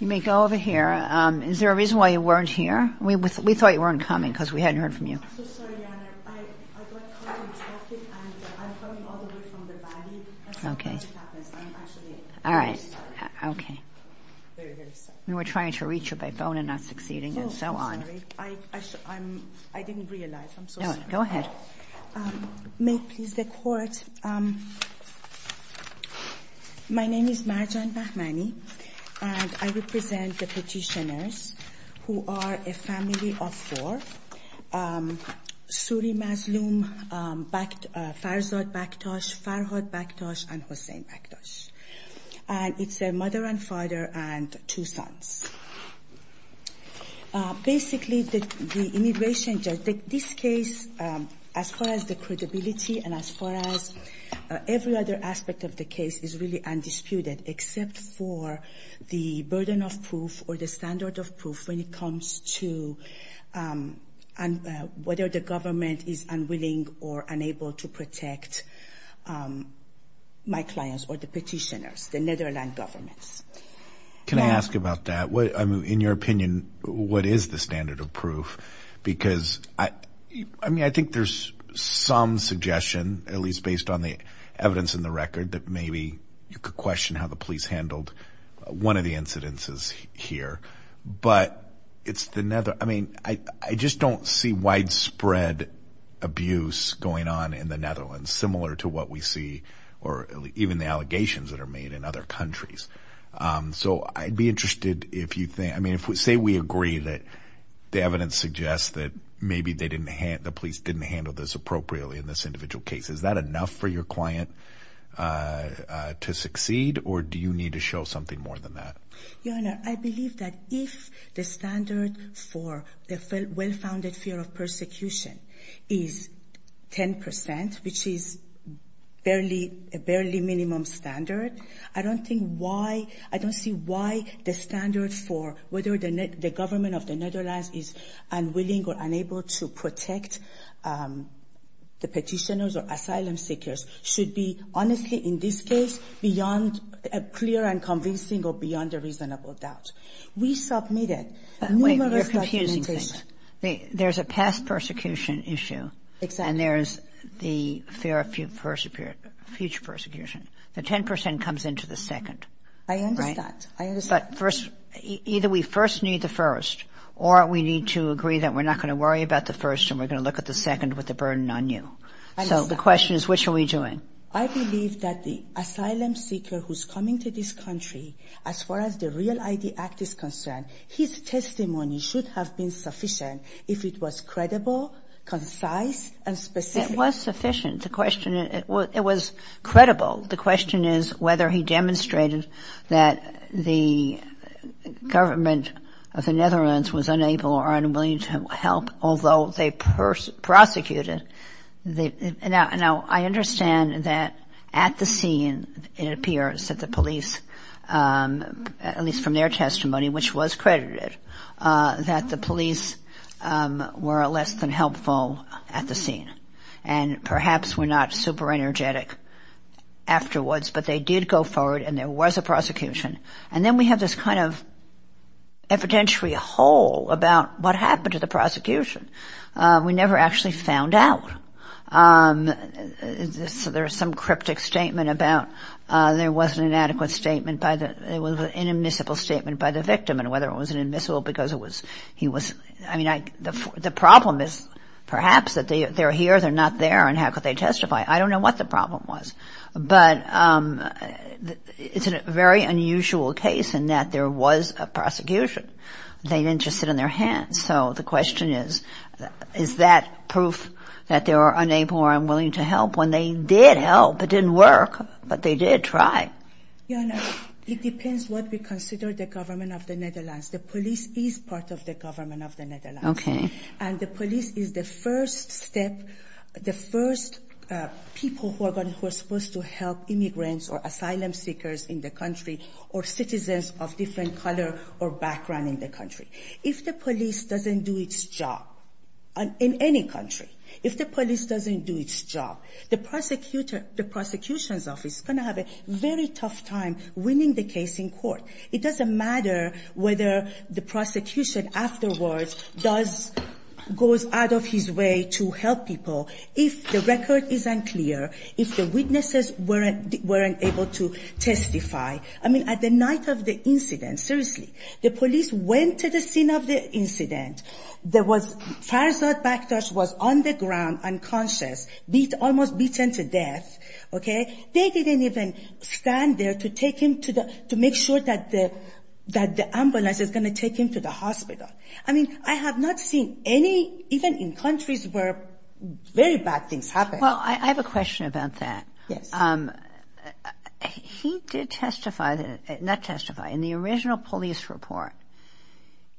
Is there a reason why you weren't here? We thought you weren't coming because we hadn't heard from you. I'm sorry. I got caught in traffic. I'm coming all the way from the valley. I'm sorry. I didn't realize. I'm so sorry. Go ahead. May it please the court, my name is Marjan Bahmani and I represent the petitioners who are a family of four, Suri Mazloom, Farzad Baktash, Farhad Baktash, and Hossein Baktash. It's a mother and father and two sons. Basically, the immigration judge, this case, as far as the credibility and as far as every other aspect of the case is really undisputed except for the burden of proof or the standard of proof when it comes to whether the government is unwilling or unable to protect my clients or the petitioners, the Netherlands governments. Can I ask about that? I mean, in your opinion, what is the standard of proof? Because I mean, I think there's some suggestion, at least based on the evidence in the record that maybe you could question how the police handled one of the incidences here, but it's the Netherlands. I mean, I just don't see widespread abuse going on in the Netherlands, similar to what we see or even the allegations that are made in other countries. So I'd be interested if you think, I mean, if we say we agree that the evidence suggests that maybe the police didn't handle this appropriately in this individual case, is that enough for your client to succeed or do you need to show something more than that? Your Honor, I believe that if the standard for the well-founded fear of persecution is 10 percent, which is barely a minimum standard, I don't think why – I don't see why the standard for whether the government of the Netherlands is unwilling or unable to protect the petitioners or asylum seekers should be, honestly, in this case, beyond a clear and convincing or beyond a reasonable doubt. We submitted numerous documentation. Wait. You're confusing things. There's a past persecution issue. Exactly. And there's the fear of future persecution. The 10 percent comes into the second. I understand. Right? I understand. But first – either we first need the first or we need to agree that we're not going to worry about the first and we're going to look at the second with the burden on you. I understand. So the question is, which are we doing? I believe that the asylum seeker who's coming to this country, as far as the REAL ID Act is concerned, his testimony should have been sufficient if it was credible, concise, and specific. It was sufficient. The question – it was credible. The question is whether he demonstrated that the government of the Netherlands was unable or unwilling to help, although they prosecuted. Now, I understand that at the scene, it appears that the police, at least from their testimony, which was credited, that the police were less than helpful at the scene and perhaps were not super energetic afterwards. But they did go forward and there was a prosecution. And then we have this kind of evidentiary hole about what happened to the prosecution. We never actually found out. So there's some cryptic statement about there wasn't an adequate statement by the – it was an inadmissible statement by the victim and whether it was inadmissible because it was – he was – I mean, the problem is perhaps that they're here, they're not there and how could they testify? I don't know what the problem was. But it's a very unusual case in that there was a prosecution. They didn't just sit on their hands. And so the question is, is that proof that they were unable or unwilling to help when they did help? It didn't work, but they did try. Yeah, no. It depends what we consider the government of the Netherlands. The police is part of the government of the Netherlands. Okay. And the police is the first step, the first people who are supposed to help immigrants or asylum seekers in the country or citizens of different color or background in the country. If the police doesn't do its job in any country, if the police doesn't do its job, the prosecutor – the prosecution's office is going to have a very tough time winning the case in court. It doesn't matter whether the prosecution afterwards does – goes out of his way to help people if the record is unclear, if the witnesses weren't able to testify. I mean, at the night of the incident, seriously, the police went to the scene of the incident. There was – Farzad Bakhtash was on the ground unconscious, beat – almost beaten to death. Okay? They didn't even stand there to take him to the – to make sure that the – that the ambulance is going to take him to the hospital. I mean, I have not seen any – even in countries where very bad things happen. Well, I have a question about that. Yes. He did testify – not testify – in the original police report,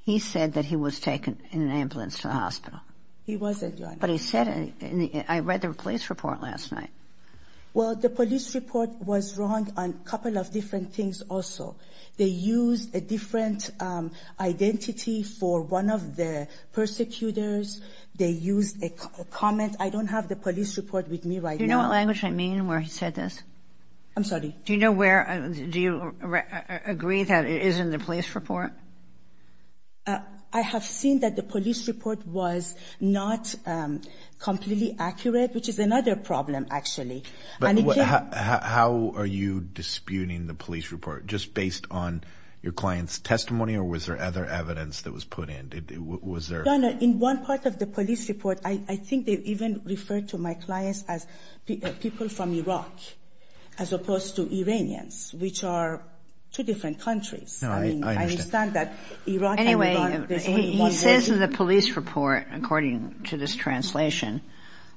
he said that he was taken in an ambulance to the hospital. He wasn't, Your Honor. But he said – I read the police report last night. Well, the police report was wrong on a couple of different things also. They used a different identity for one of the persecutors. They used a comment. I don't have the police report with me right now. Do you know what language I mean where he said this? I'm sorry? Do you know where – do you agree that it is in the police report? I have seen that the police report was not completely accurate, which is another problem, actually. And it can – But how are you disputing the police report? Just based on your client's testimony, or was there other evidence that was put in? Was there – Well, Your Honor, in one part of the police report, I think they even referred to my clients as people from Iraq, as opposed to Iranians, which are two different countries. No, I understand. I mean, I understand that Iraq and Iran – Anyway, he says in the police report, according to this translation,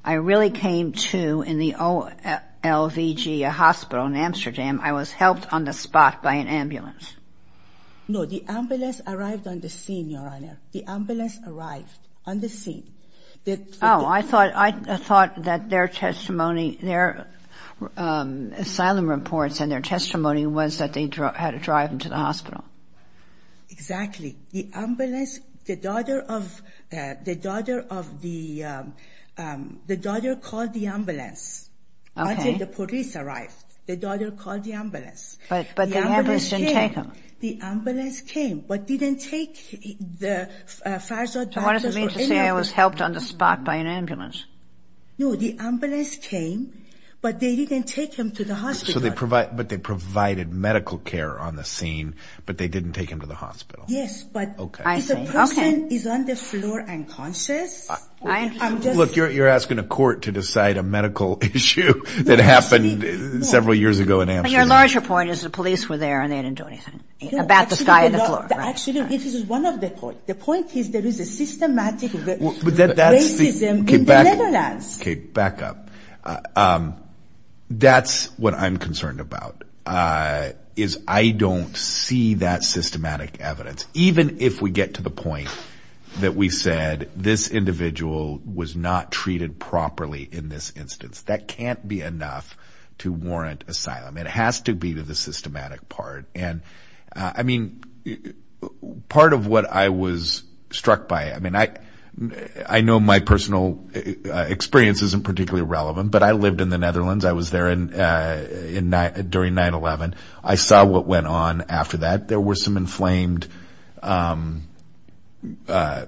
I really came to, in the OLVG hospital in Amsterdam, I was helped on the spot by an ambulance. No, the ambulance arrived on the scene, Your Honor. The ambulance arrived on the scene. Oh, I thought that their testimony – their asylum reports and their testimony was that they had to drive them to the hospital. Exactly. The ambulance – the daughter of – the daughter of the – the daughter called the ambulance. Okay. Until the police arrived. The daughter called the ambulance. But the ambulance didn't take them. The ambulance came, but didn't take the Farzad doctors or any of the – What does it mean to say I was helped on the spot by an ambulance? No, the ambulance came, but they didn't take him to the hospital. So they provided – but they provided medical care on the scene, but they didn't take him to the hospital. Yes, but – Okay. I see. Okay. If the person is on the floor unconscious, I'm just – Look, you're asking a court to decide a medical issue that happened several years ago in Amsterdam. Well, your larger point is the police were there and they didn't do anything about the guy on the floor. No, actually, it is one of the points. The point is there is a systematic racism in the Netherlands. Okay. Back up. That's what I'm concerned about, is I don't see that systematic evidence. Even if we get to the point that we said this individual was not treated properly in this instance, that can't be enough to warrant asylum. It has to be the systematic part, and I mean, part of what I was struck by – I mean, I know my personal experience isn't particularly relevant, but I lived in the Netherlands. I was there during 9-11. I saw what went on after that. There were some inflamed, you know,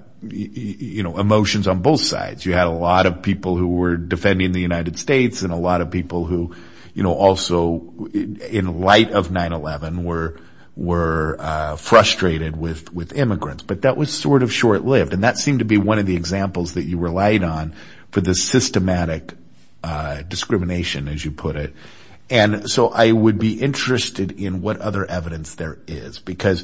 emotions on both sides. You had a lot of people who were defending the United States and a lot of people who, you know, also, in light of 9-11, were frustrated with immigrants, but that was sort of short-lived and that seemed to be one of the examples that you relied on for the systematic discrimination, as you put it, and so I would be interested in what other evidence there is because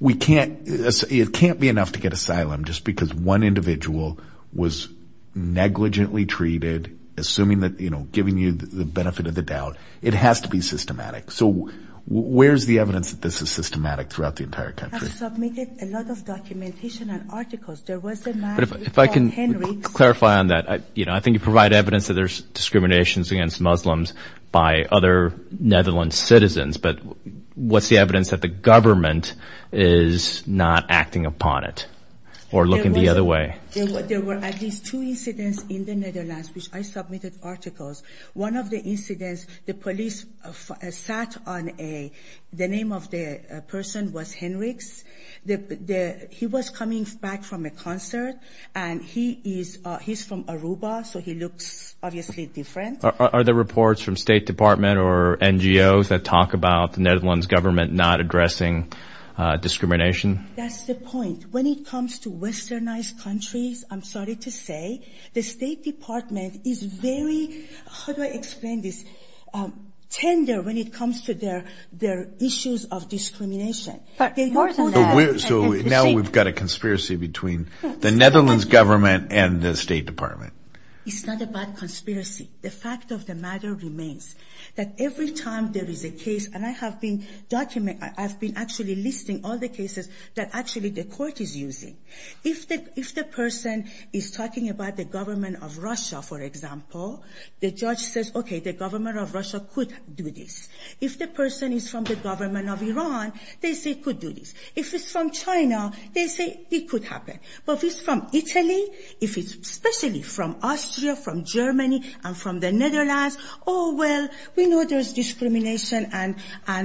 we can't – it can't be enough to get asylum just because one individual was negligently treated, assuming that – you know, giving you the benefit of the doubt. It has to be systematic, so where's the evidence that this is systematic throughout the entire country? I've submitted a lot of documentation and articles. There was a man – If I can clarify on that, you know, I think you provide evidence that there's discriminations against Muslims by other Netherlands citizens, but what's the evidence that the government is not acting upon it or looking the other way? There were at least two incidents in the Netherlands which I submitted articles. One of the incidents, the police sat on a – the name of the person was Henriks. He was coming back from a concert and he is – he's from Aruba, so he looks obviously different. Are there reports from State Department or NGOs that talk about the Netherlands government not addressing discrimination? That's the point. When it comes to westernized countries, I'm sorry to say, the State Department is very – how do I explain this – tender when it comes to their issues of discrimination. But more than that – So now we've got a conspiracy between the Netherlands government and the State Department. It's not a bad conspiracy. The fact of the matter remains that every time there is a case – and I have been – I've been actually listing all the cases that actually the court is using. If the person is talking about the government of Russia, for example, the judge says, okay, the government of Russia could do this. If the person is from the government of Iran, they say it could do this. If it's from China, they say it could happen. But if it's from Italy, if it's especially from Austria, from Germany, and from the Netherlands, oh, well, we know there's discrimination and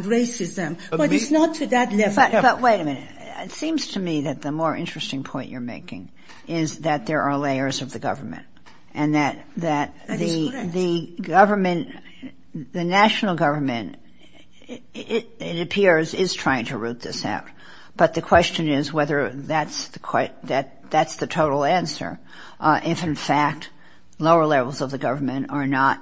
racism. But it's not to that level. But wait a minute. It seems to me that the more interesting point you're making is that there are layers of the government and that the government – the national government, it appears, is trying to root this out. But the question is whether that's the total answer if, in fact, lower levels of the government are not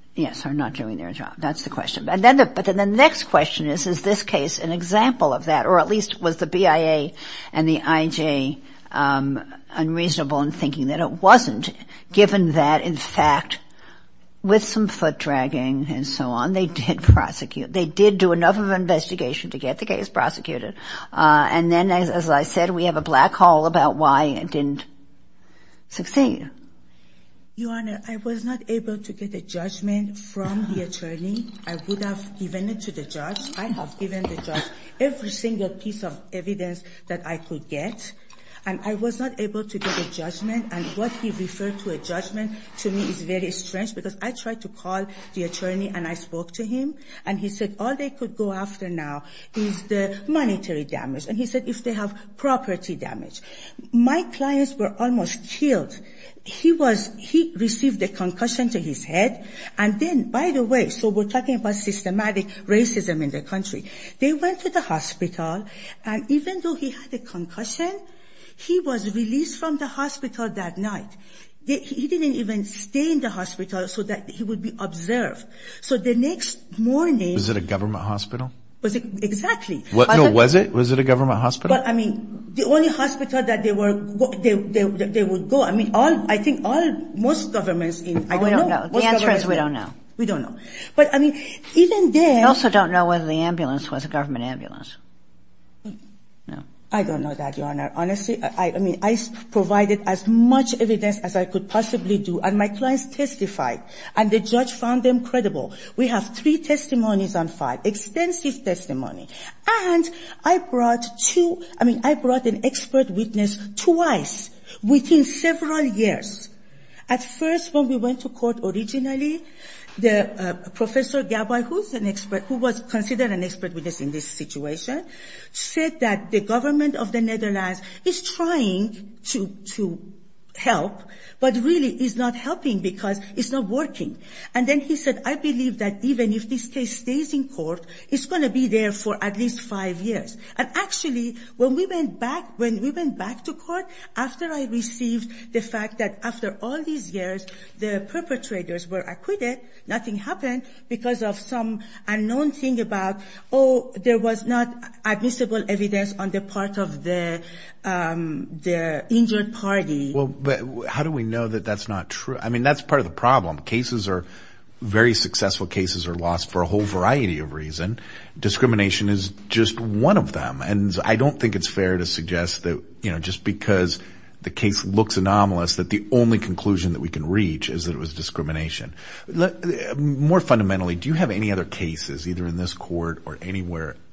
– yes, are not doing their job. That's the question. But then the next question is, is this case an example of that, or at least was the BIA and the IJ unreasonable in thinking that it wasn't, given that, in fact, with some foot dragging and so on, they did prosecute – they did do enough of an investigation to get the case prosecuted. And then, as I said, we have a black hole about why it didn't succeed. Your Honor, I was not able to get a judgment from the attorney. I would have given it to the judge. I have given the judge every single piece of evidence that I could get. And I was not able to get a judgment. And what he referred to a judgment to me is very strange because I tried to call the attorney and I spoke to him. And he said all they could go after now is the monetary damage. And he said if they have property damage. My clients were almost killed. He was – he received a concussion to his head. And then, by the way – so we're talking about systematic racism in the country. They went to the hospital. And even though he had a concussion, he was released from the hospital that night. He didn't even stay in the hospital so that he would be observed. So the next morning – Was it a government hospital? Exactly. No, was it? Was it a government hospital? But, I mean, the only hospital that they were – they would go. I mean, all – I think all – most governments in – I don't know. The answer is we don't know. We don't know. But, I mean, even then – I also don't know whether the ambulance was a government ambulance. I don't know that, Your Honor. Honestly, I mean, I provided as much evidence as I could possibly do. And my clients testified. And the judge found them credible. We have three testimonies on file. Extensive testimony. And I brought two – I mean, I brought an expert witness twice within several years. At first, when we went to court originally, the – Professor Gabay, who's an expert – who was considered an expert witness in this situation, said that the government of the Netherlands is trying to help, but really is not helping because it's not working. And then he said, I believe that even if this case stays in court, it's going to be there for at least five years. And actually, when we went back – when we went back to court, after I received the fact that after all these years the perpetrators were acquitted, nothing happened because of some unknown thing about, oh, there was not admissible evidence on the part of the injured party. Well, but how do we know that that's not true? I mean, that's part of the problem. Cases are – very successful cases are lost for a whole variety of reasons. Discrimination is just one of them. And I don't think it's fair to suggest that, you know, just because the case looks anomalous that the only conclusion that we can reach is that it was discrimination. More fundamentally, do you have any other cases, either in this court or anywhere –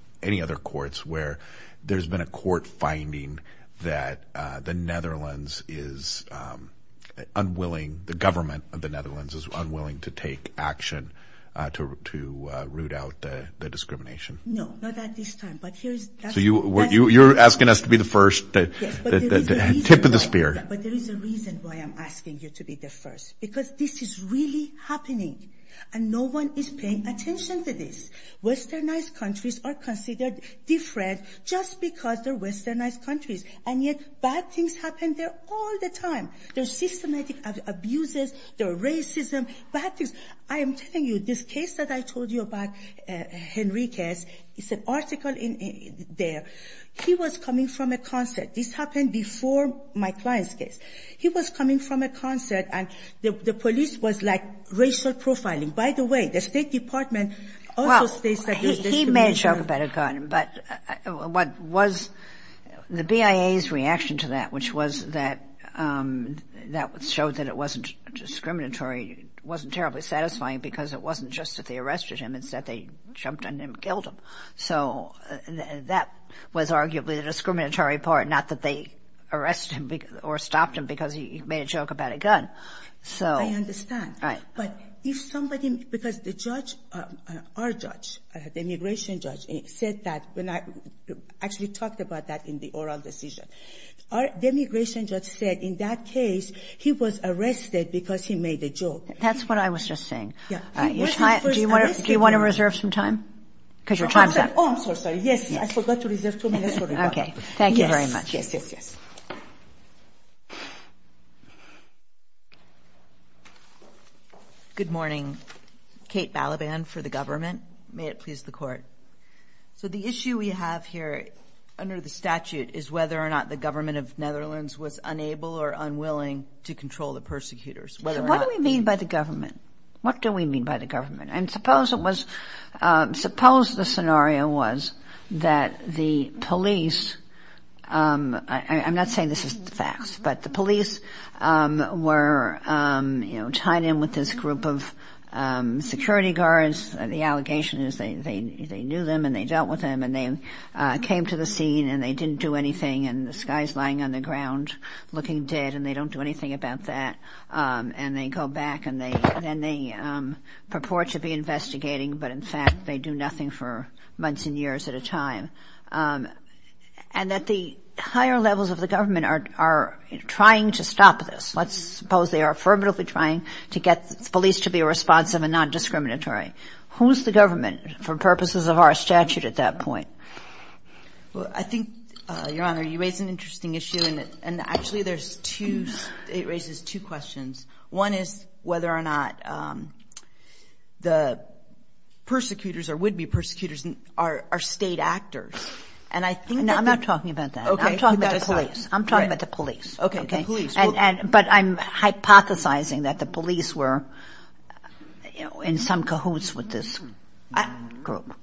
the government of the Netherlands is unwilling to take action to root out the discrimination? No, not at this time. So you're asking us to be the first, the tip of the spear. Yes, but there is a reason why I'm asking you to be the first. Because this is really happening, and no one is paying attention to this. Westernized countries are considered different just because they're westernized countries. And yet bad things happen there all the time. There are systematic abuses. There are racism. Bad things. I am telling you, this case that I told you about, Henriquez, it's an article there. He was coming from a concert. This happened before my client's case. He was coming from a concert, and the police was like racial profiling. By the way, the State Department also states that there's discrimination. He made a joke about a gun, but what was the BIA's reaction to that, which was that it showed that it wasn't discriminatory, wasn't terribly satisfying because it wasn't just that they arrested him. It's that they jumped on him and killed him. So that was arguably the discriminatory part, not that they arrested him or stopped him because he made a joke about a gun. I understand. But if somebody, because the judge, our judge, the immigration judge, said that when I actually talked about that in the oral decision, our immigration judge said in that case he was arrested because he made a joke. That's what I was just saying. Do you want to reserve some time? Oh, I'm so sorry. Yes, I forgot to reserve two minutes for Rebecca. Okay. Thank you very much. Yes, yes, yes. Good morning. Kate Balaban for the government. May it please the Court. So the issue we have here under the statute is whether or not the government of Netherlands was unable or unwilling to control the persecutors. What do we mean by the government? What do we mean by the government? And suppose the scenario was that the police, I'm not saying this is the facts, but the police were, you know, tied in with this group of security guards. The allegation is they knew them and they dealt with them and they came to the scene and they didn't do anything and this guy is lying on the ground looking dead and they don't do anything about that. And they go back and then they purport to be investigating, but in fact they do nothing for months and years at a time. And that the higher levels of the government are trying to stop this. Let's suppose they are affirmatively trying to get police to be responsive and not discriminatory. Who is the government for purposes of our statute at that point? Well, I think, Your Honor, you raise an interesting issue and actually it raises two questions. One is whether or not the persecutors or would-be persecutors are state actors. No, I'm not talking about that. I'm talking about the police. I'm talking about the police. Okay, the police. But I'm hypothesizing that the police were in some cahoots with this group.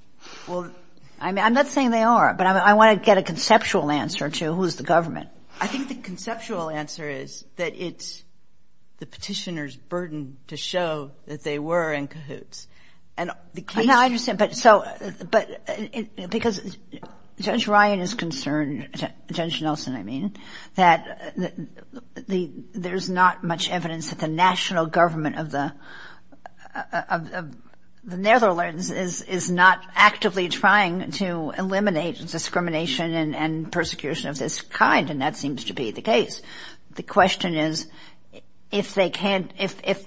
I'm not saying they are, but I want to get a conceptual answer to who is the government. I think the conceptual answer is that it's the petitioner's burden to show that they were in cahoots. No, I understand. But because Judge Ryan is concerned, Judge Nelson, I mean, that there's not much evidence that the national government of the Netherlands is not actively trying to eliminate discrimination and persecution of this kind, and that seems to be the case. The question is if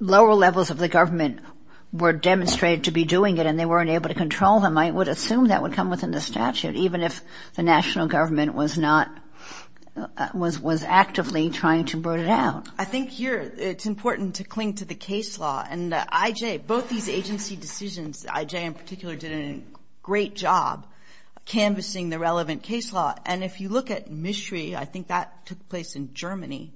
lower levels of the government were demonstrated to be doing it and they weren't able to control them, I would assume that would come within the statute, even if the national government was actively trying to bring it out. I think here it's important to cling to the case law. And IJ, both these agency decisions, IJ in particular did a great job canvassing the relevant case law. And if you look at Mishri, I think that took place in Germany,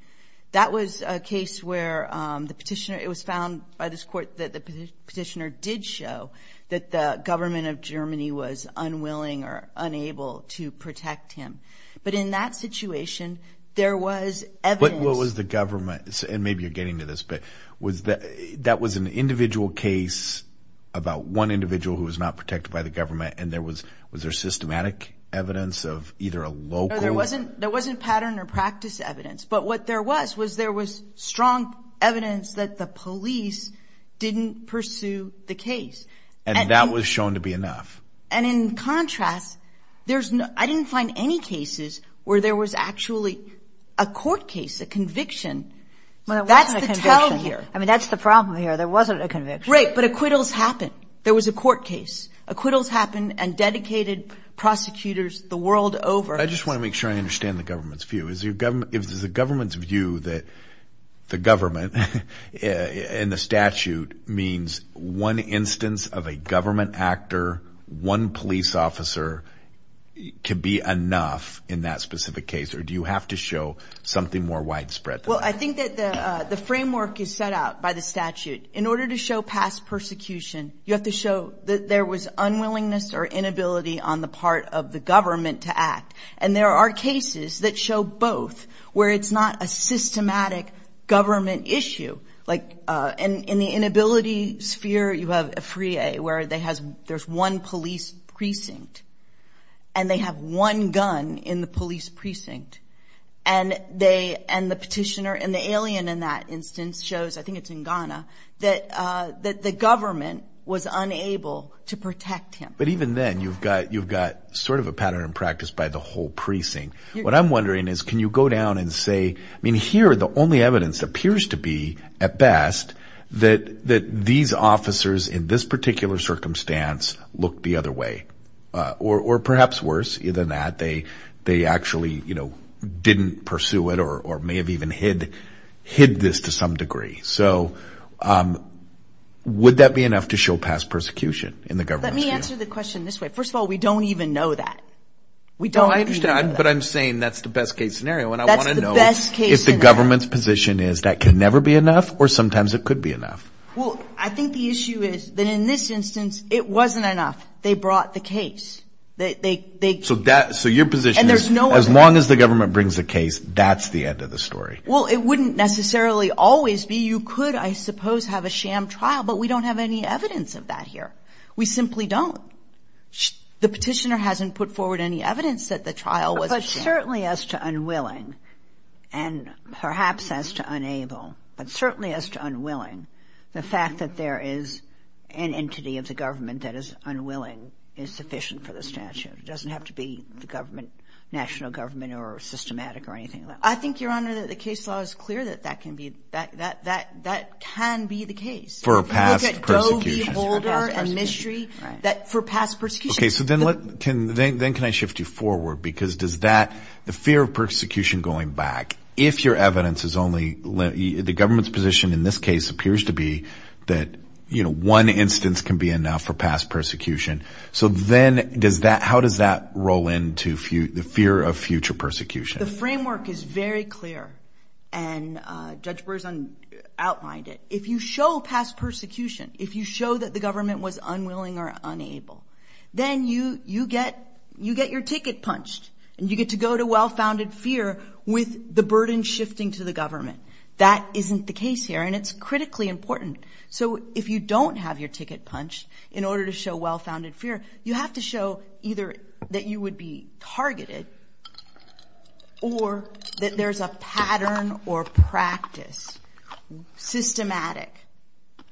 that was a case where the petitioner, it was found by this court that the petitioner did show that the government of Germany was unwilling or unable to protect him. But in that situation, there was evidence. So what was the government, and maybe you're getting to this, but that was an individual case about one individual who was not protected by the government, and was there systematic evidence of either a local? No, there wasn't pattern or practice evidence. But what there was was there was strong evidence that the police didn't pursue the case. And that was shown to be enough. And in contrast, I didn't find any cases where there was actually a court case, a conviction. That's the tell here. I mean, that's the problem here. There wasn't a conviction. Right, but acquittals happened. There was a court case. Acquittals happened and dedicated prosecutors the world over. I just want to make sure I understand the government's view. Is the government's view that the government and the statute means one instance of a government actor, one police officer can be enough in that specific case, or do you have to show something more widespread? Well, I think that the framework is set out by the statute. In order to show past persecution, you have to show that there was unwillingness or inability on the part of the government to act. And there are cases that show both, where it's not a systematic government issue. Like in the inability sphere, you have Afriye, where there's one police precinct, and they have one gun in the police precinct. And the petitioner and the alien in that instance shows, I think it's in Ghana, that the government was unable to protect him. But even then, you've got sort of a pattern in practice by the whole precinct. What I'm wondering is can you go down and say, I mean, here the only evidence appears to be, at best, that these officers in this particular circumstance looked the other way, or perhaps worse than that, they actually didn't pursue it or may have even hid this to some degree. So would that be enough to show past persecution in the government's view? Let me answer the question this way. First of all, we don't even know that. We don't even know that. I understand, but I'm saying that's the best case scenario. That's the best case scenario. And I want to know if the government's position is that can never be enough or sometimes it could be enough. Well, I think the issue is that in this instance, it wasn't enough. They brought the case. So your position is as long as the government brings a case, that's the end of the story. Well, it wouldn't necessarily always be. You could, I suppose, have a sham trial, but we don't have any evidence of that here. We simply don't. The Petitioner hasn't put forward any evidence that the trial was a sham. But certainly as to unwilling and perhaps as to unable, but certainly as to unwilling, the fact that there is an entity of the government that is unwilling is sufficient for the statute. It doesn't have to be the government, national government or systematic or anything like that. I think, Your Honor, that the case law is clear that that can be the case. Look at Doe v. Holder and Mistry for past persecution. Okay. So then can I shift you forward? Because does that, the fear of persecution going back, if your evidence is only, the government's position in this case appears to be that, you know, one instance can be enough for past persecution. So then does that, how does that roll into the fear of future persecution? The framework is very clear. And Judge Brewer has outlined it. If you show past persecution, if you show that the government was unwilling or unable, then you get your ticket punched and you get to go to well-founded fear with the burden shifting to the government. That isn't the case here, and it's critically important. So if you don't have your ticket punched in order to show well-founded fear, you have to show either that you would be targeted or that there's a pattern or practice, systematic,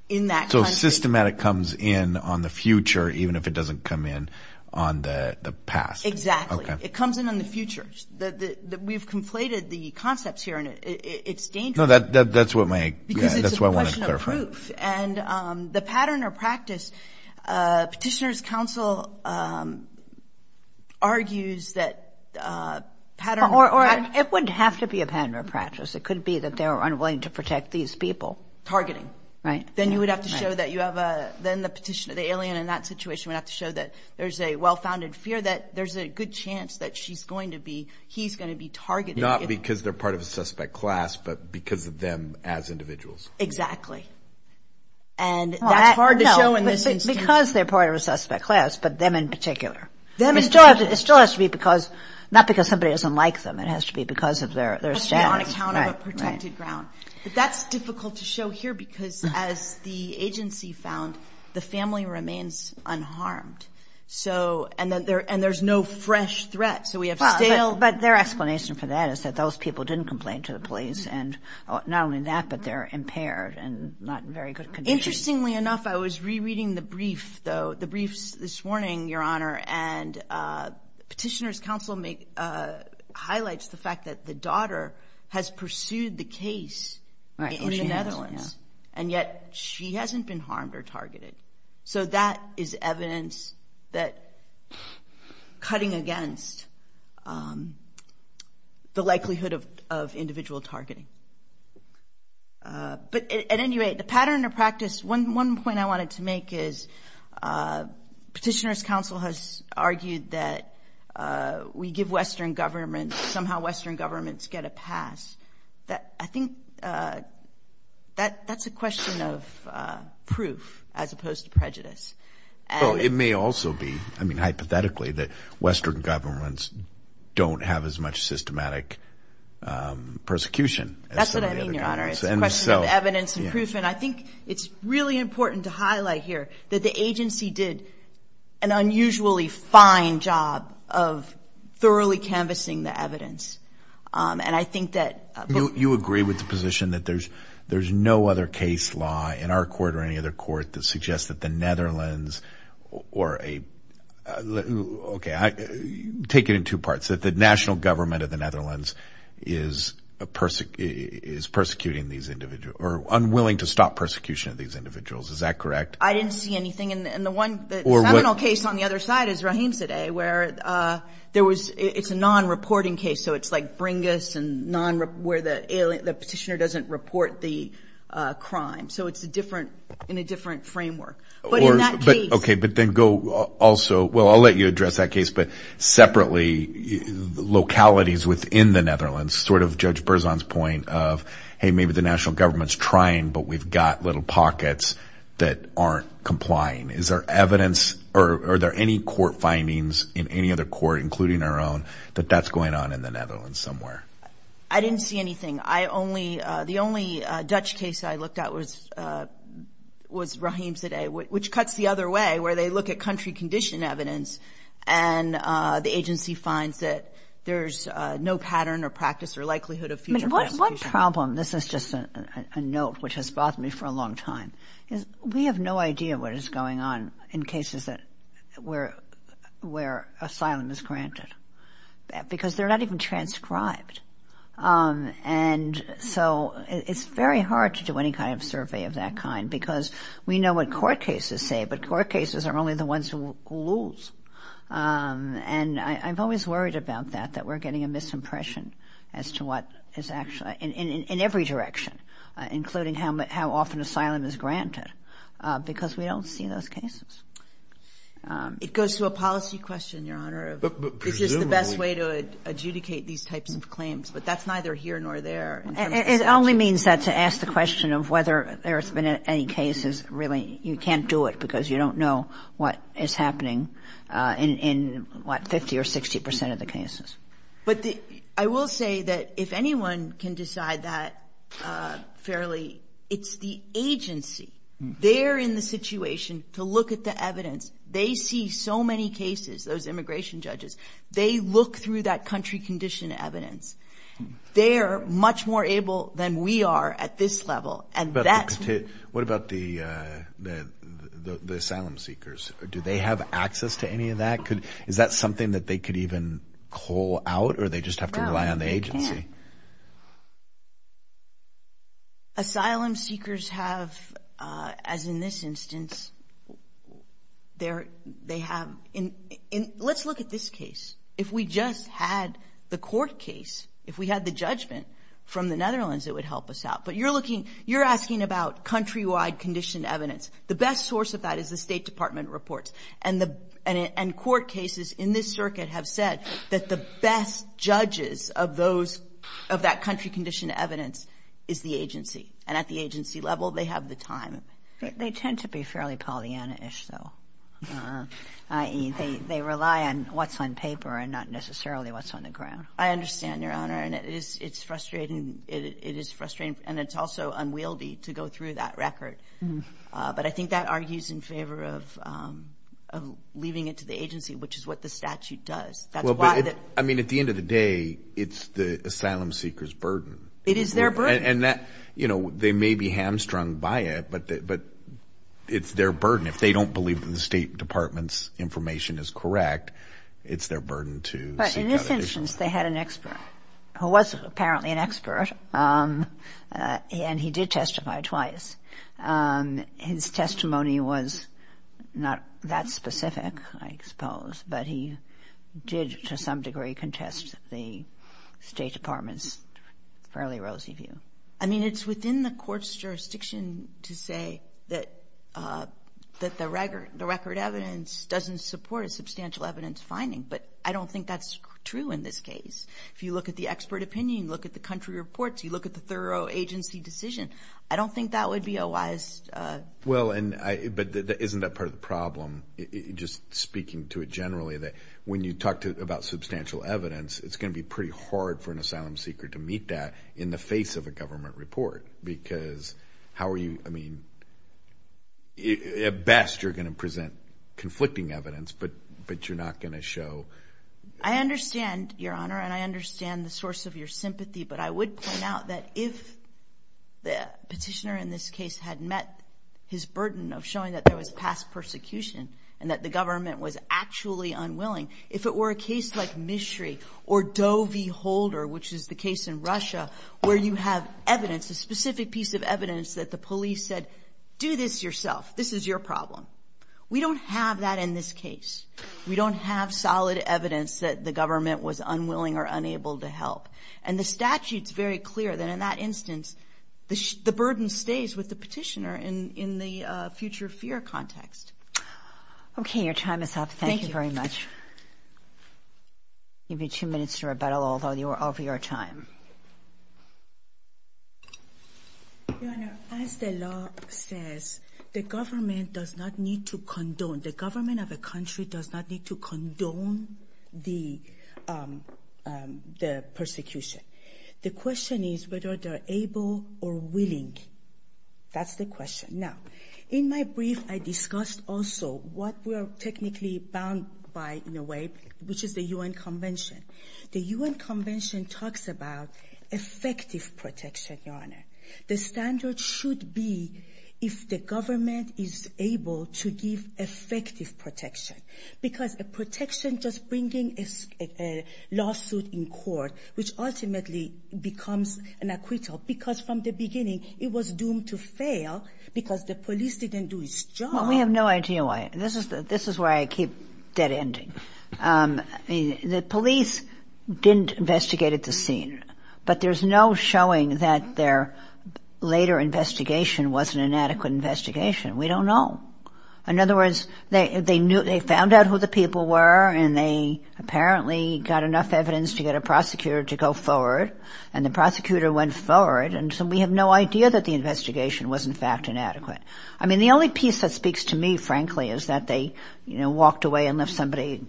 in that country. So systematic comes in on the future even if it doesn't come in on the past. Exactly. Okay. It comes in on the future. We've conflated the concepts here, and it's dangerous. No, that's what my, that's what I wanted to clarify. Because it's a question of proof. And the pattern or practice, Petitioner's Counsel argues that pattern or practice. It wouldn't have to be a pattern or practice. It could be that they were unwilling to protect these people. Targeting. Right. Then you would have to show that you have a, then the petitioner, the alien in that situation would have to show that there's a well-founded fear, that there's a good chance that she's going to be, he's going to be targeted. Not because they're part of a suspect class, but because of them as individuals. Exactly. And that. Well, it's hard to show in this instance. Because they're part of a suspect class, but them in particular. Them in particular. It still has to be because, not because somebody doesn't like them. It has to be because of their status. It has to be on account of a protected ground. But that's difficult to show here because as the agency found, the family remains unharmed. So, and there's no fresh threat. So we have stale. But their explanation for that is that those people didn't complain to the police. And not only that, but they're impaired and not in very good condition. Interestingly enough, I was rereading the brief, though, the briefs this morning, Your Honor, and petitioner's counsel highlights the fact that the daughter has pursued the case in the Netherlands. And yet she hasn't been harmed or targeted. So that is evidence that cutting against the likelihood of individual targeting. But at any rate, the pattern or practice, one point I wanted to make is petitioner's counsel has argued that we give Western governments, somehow Western governments get a pass. I think that's a question of proof as opposed to prejudice. Well, it may also be, I mean, hypothetically, that Western governments don't have as much systematic persecution. That's what I mean, Your Honor. It's a question of evidence and proof. And I think it's really important to highlight here that the agency did an unusually fine job of thoroughly canvassing the evidence. And I think that – You agree with the position that there's no other case law in our court or any other court that suggests that the Netherlands or a – okay, take it in two parts. That the national government of the Netherlands is persecuting these individuals or unwilling to stop persecution of these individuals. Is that correct? I didn't see anything in the one – the seminal case on the other side is Rahimzadeh where there was – It's a non-reporting case. So it's like Bringus and non – where the petitioner doesn't report the crime. So it's a different – in a different framework. But in that case – Okay, but then go also – well, I'll let you address that case. But separately, localities within the Netherlands, sort of Judge Berzon's point of, hey, maybe the national government's trying, but we've got little pockets that aren't complying. Is there evidence or are there any court findings in any other court, including our own, that that's going on in the Netherlands somewhere? I didn't see anything. I only – the only Dutch case I looked at was Rahimzadeh, which cuts the other way where they look at country condition evidence and the agency finds that there's no pattern or practice or likelihood of future persecution. What problem – this is just a note which has bothered me for a long time. We have no idea what is going on in cases that – where asylum is granted because they're not even transcribed. And so it's very hard to do any kind of survey of that kind because we know what court cases say, but court cases are only the ones who lose. And I'm always worried about that, that we're getting a misimpression as to what is actually – because we don't see those cases. It goes to a policy question, Your Honor. Presumably. Is this the best way to adjudicate these types of claims? But that's neither here nor there. It only means that to ask the question of whether there's been any cases, really, you can't do it because you don't know what is happening in, what, 50 or 60 percent of the cases. But I will say that if anyone can decide that fairly, it's the agency. They're in the situation to look at the evidence. They see so many cases, those immigration judges. They look through that country condition evidence. They're much more able than we are at this level, and that's – What about the asylum seekers? Do they have access to any of that? Is that something that they could even call out or they just have to rely on the agency? No, they can't. Asylum seekers have, as in this instance, they have – let's look at this case. If we just had the court case, if we had the judgment from the Netherlands, it would help us out. But you're looking – you're asking about country-wide conditioned evidence. The best source of that is the State Department reports. And the – and court cases in this circuit have said that the best judges of those – of that country-conditioned evidence is the agency. And at the agency level, they have the time. They tend to be fairly Pollyanna-ish, though, i.e. they rely on what's on paper and not necessarily what's on the ground. I understand, Your Honor. And it is – it's frustrating. It is frustrating, and it's also unwieldy to go through that record. But I think that argues in favor of leaving it to the agency, which is what the statute does. That's why the – Well, but it – I mean, at the end of the day, it's the asylum seeker's burden. It is their burden. And that – you know, they may be hamstrung by it, but it's their burden. If they don't believe that the State Department's information is correct, it's their burden to seek out a case. who was apparently an expert, and he did testify twice. His testimony was not that specific, I suppose, but he did to some degree contest the State Department's fairly rosy view. I mean, it's within the Court's jurisdiction to say that the record evidence doesn't support a substantial evidence finding, but I don't think that's true in this case. If you look at the expert opinion, look at the country reports, you look at the thorough agency decision, I don't think that would be a wise – Well, and I – but isn't that part of the problem, just speaking to it generally, that when you talk about substantial evidence, it's going to be pretty hard for an asylum seeker to meet that in the face of a government report? Because how are you – I mean, at best, you're going to present conflicting evidence, but you're not going to show – I understand, Your Honor, and I understand the source of your sympathy, but I would point out that if the petitioner in this case had met his burden of showing that there was past persecution and that the government was actually unwilling, if it were a case like Mishry or Doe v. Holder, which is the case in Russia, where you have evidence, a specific piece of evidence that the police said, do this yourself, this is your problem. We don't have that in this case. We don't have solid evidence that the government was unwilling or unable to help. And the statute's very clear that in that instance, the burden stays with the petitioner in the future fear context. Okay, your time is up. Thank you very much. Thank you. You have two minutes to rebuttal, although you are over your time. Your Honor, as the law says, the government does not need to condone – the government of a country does not need to condone the persecution. The question is whether they're able or willing. That's the question. Now, in my brief, I discussed also what we're technically bound by, in a way, which is the UN Convention. The UN Convention talks about effective protection, Your Honor. The standard should be if the government is able to give effective protection because a protection just bringing a lawsuit in court, which ultimately becomes an acquittal, because from the beginning it was doomed to fail because the police didn't do its job. Well, we have no idea why. This is why I keep dead-ending. The police didn't investigate at the scene, but there's no showing that their later investigation wasn't an adequate investigation. We don't know. In other words, they found out who the people were and they apparently got enough evidence to get a prosecutor to go forward, and the prosecutor went forward, and so we have no idea that the investigation was, in fact, inadequate. I mean, the only piece that speaks to me, frankly, is that they, you know, walked away and left somebody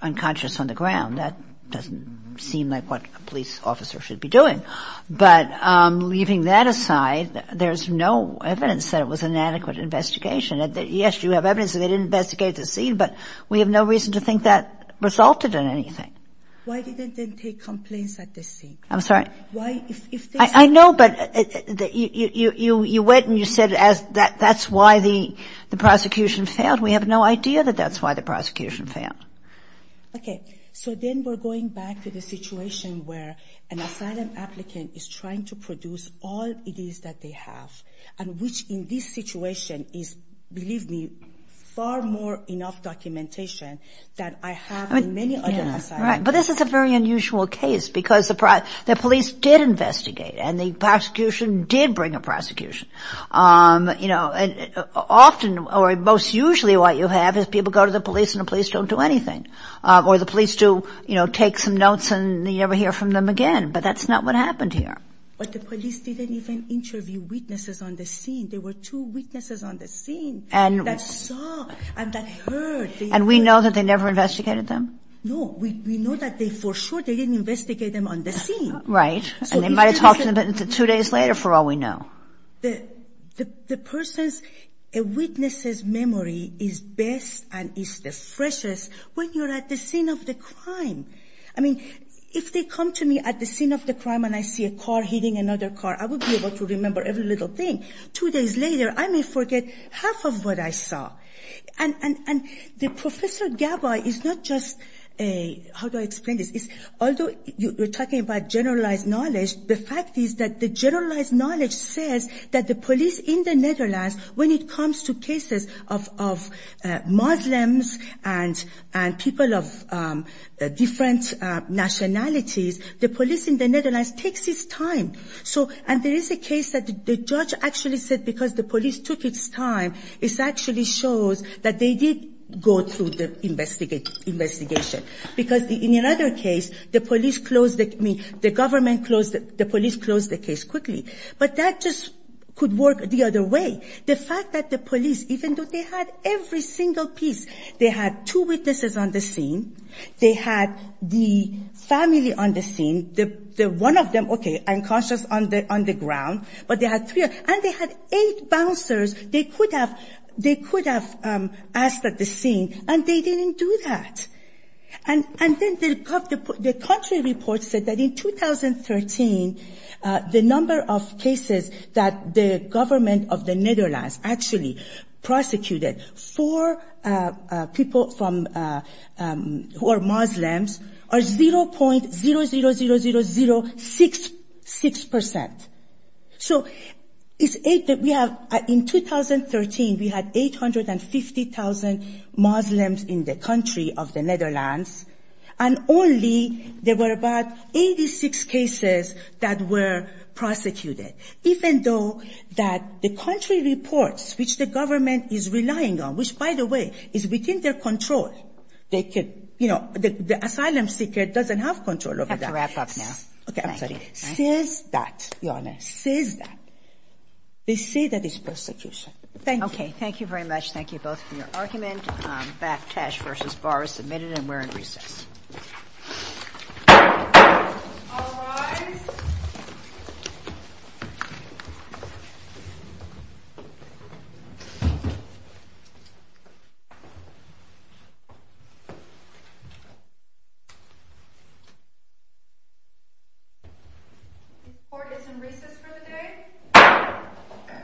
unconscious on the ground. That doesn't seem like what a police officer should be doing. But leaving that aside, there's no evidence that it was an inadequate investigation. Yes, you have evidence that they didn't investigate at the scene, but we have no reason to think that resulted in anything. Why didn't they take complaints at the scene? I'm sorry? I know, but you went and you said that's why the prosecution failed. We have no idea that that's why the prosecution failed. Okay, so then we're going back to the situation where an asylum applicant is trying to produce all it is that they have, and which in this situation is, believe me, far more enough documentation than I have in many other asylums. Right, but this is a very unusual case because the police did investigate and the prosecution did bring a prosecution. You know, often, or most usually what you have is people go to the police and the police don't do anything, or the police do, you know, take some notes and you never hear from them again, but that's not what happened here. But the police didn't even interview witnesses on the scene. There were two witnesses on the scene that saw and that heard. And we know that they never investigated them? No, we know that for sure they didn't investigate them on the scene. Right, and they might have talked to them two days later for all we know. The person's witness's memory is best and is the freshest when you're at the scene of the crime. I mean, if they come to me at the scene of the crime and I see a car hitting another car, I would be able to remember every little thing. Two days later, I may forget half of what I saw. And Professor Gabay is not just a – how do I explain this? Although you're talking about generalized knowledge, the fact is that the generalized knowledge says that the police in the Netherlands, when it comes to cases of Muslims and people of different nationalities, the police in the Netherlands takes its time. And there is a case that the judge actually said because the police took its time, it actually shows that they did go through the investigation. Because in another case, the police closed the – I mean, the government closed it. The police closed the case quickly. But that just could work the other way. The fact that the police, even though they had every single piece, they had two witnesses on the scene, they had the family on the scene, the one of them, okay, unconscious on the ground, but they had three. And they had eight bouncers they could have asked at the scene. And they didn't do that. And then the country report said that in 2013, the number of cases that the government of the Netherlands actually prosecuted for people from – who are Muslims are 0.000066%. So it's eight that we have. In 2013, we had 850,000 Muslims in the country of the Netherlands. And only there were about 86 cases that were prosecuted, even though that the country reports, which the government is relying on, which, by the way, is within their control. They could – you know, the asylum seeker doesn't have control over that. We have to wrap up now. Okay. I'm sorry. Cease that, Your Honor. Cease that. They say that it's persecution. Thank you. Okay. Thank you very much. Thank you both for your argument. Back cash versus bars submitted, and we're in recess. All rise. The court is in recess for the day.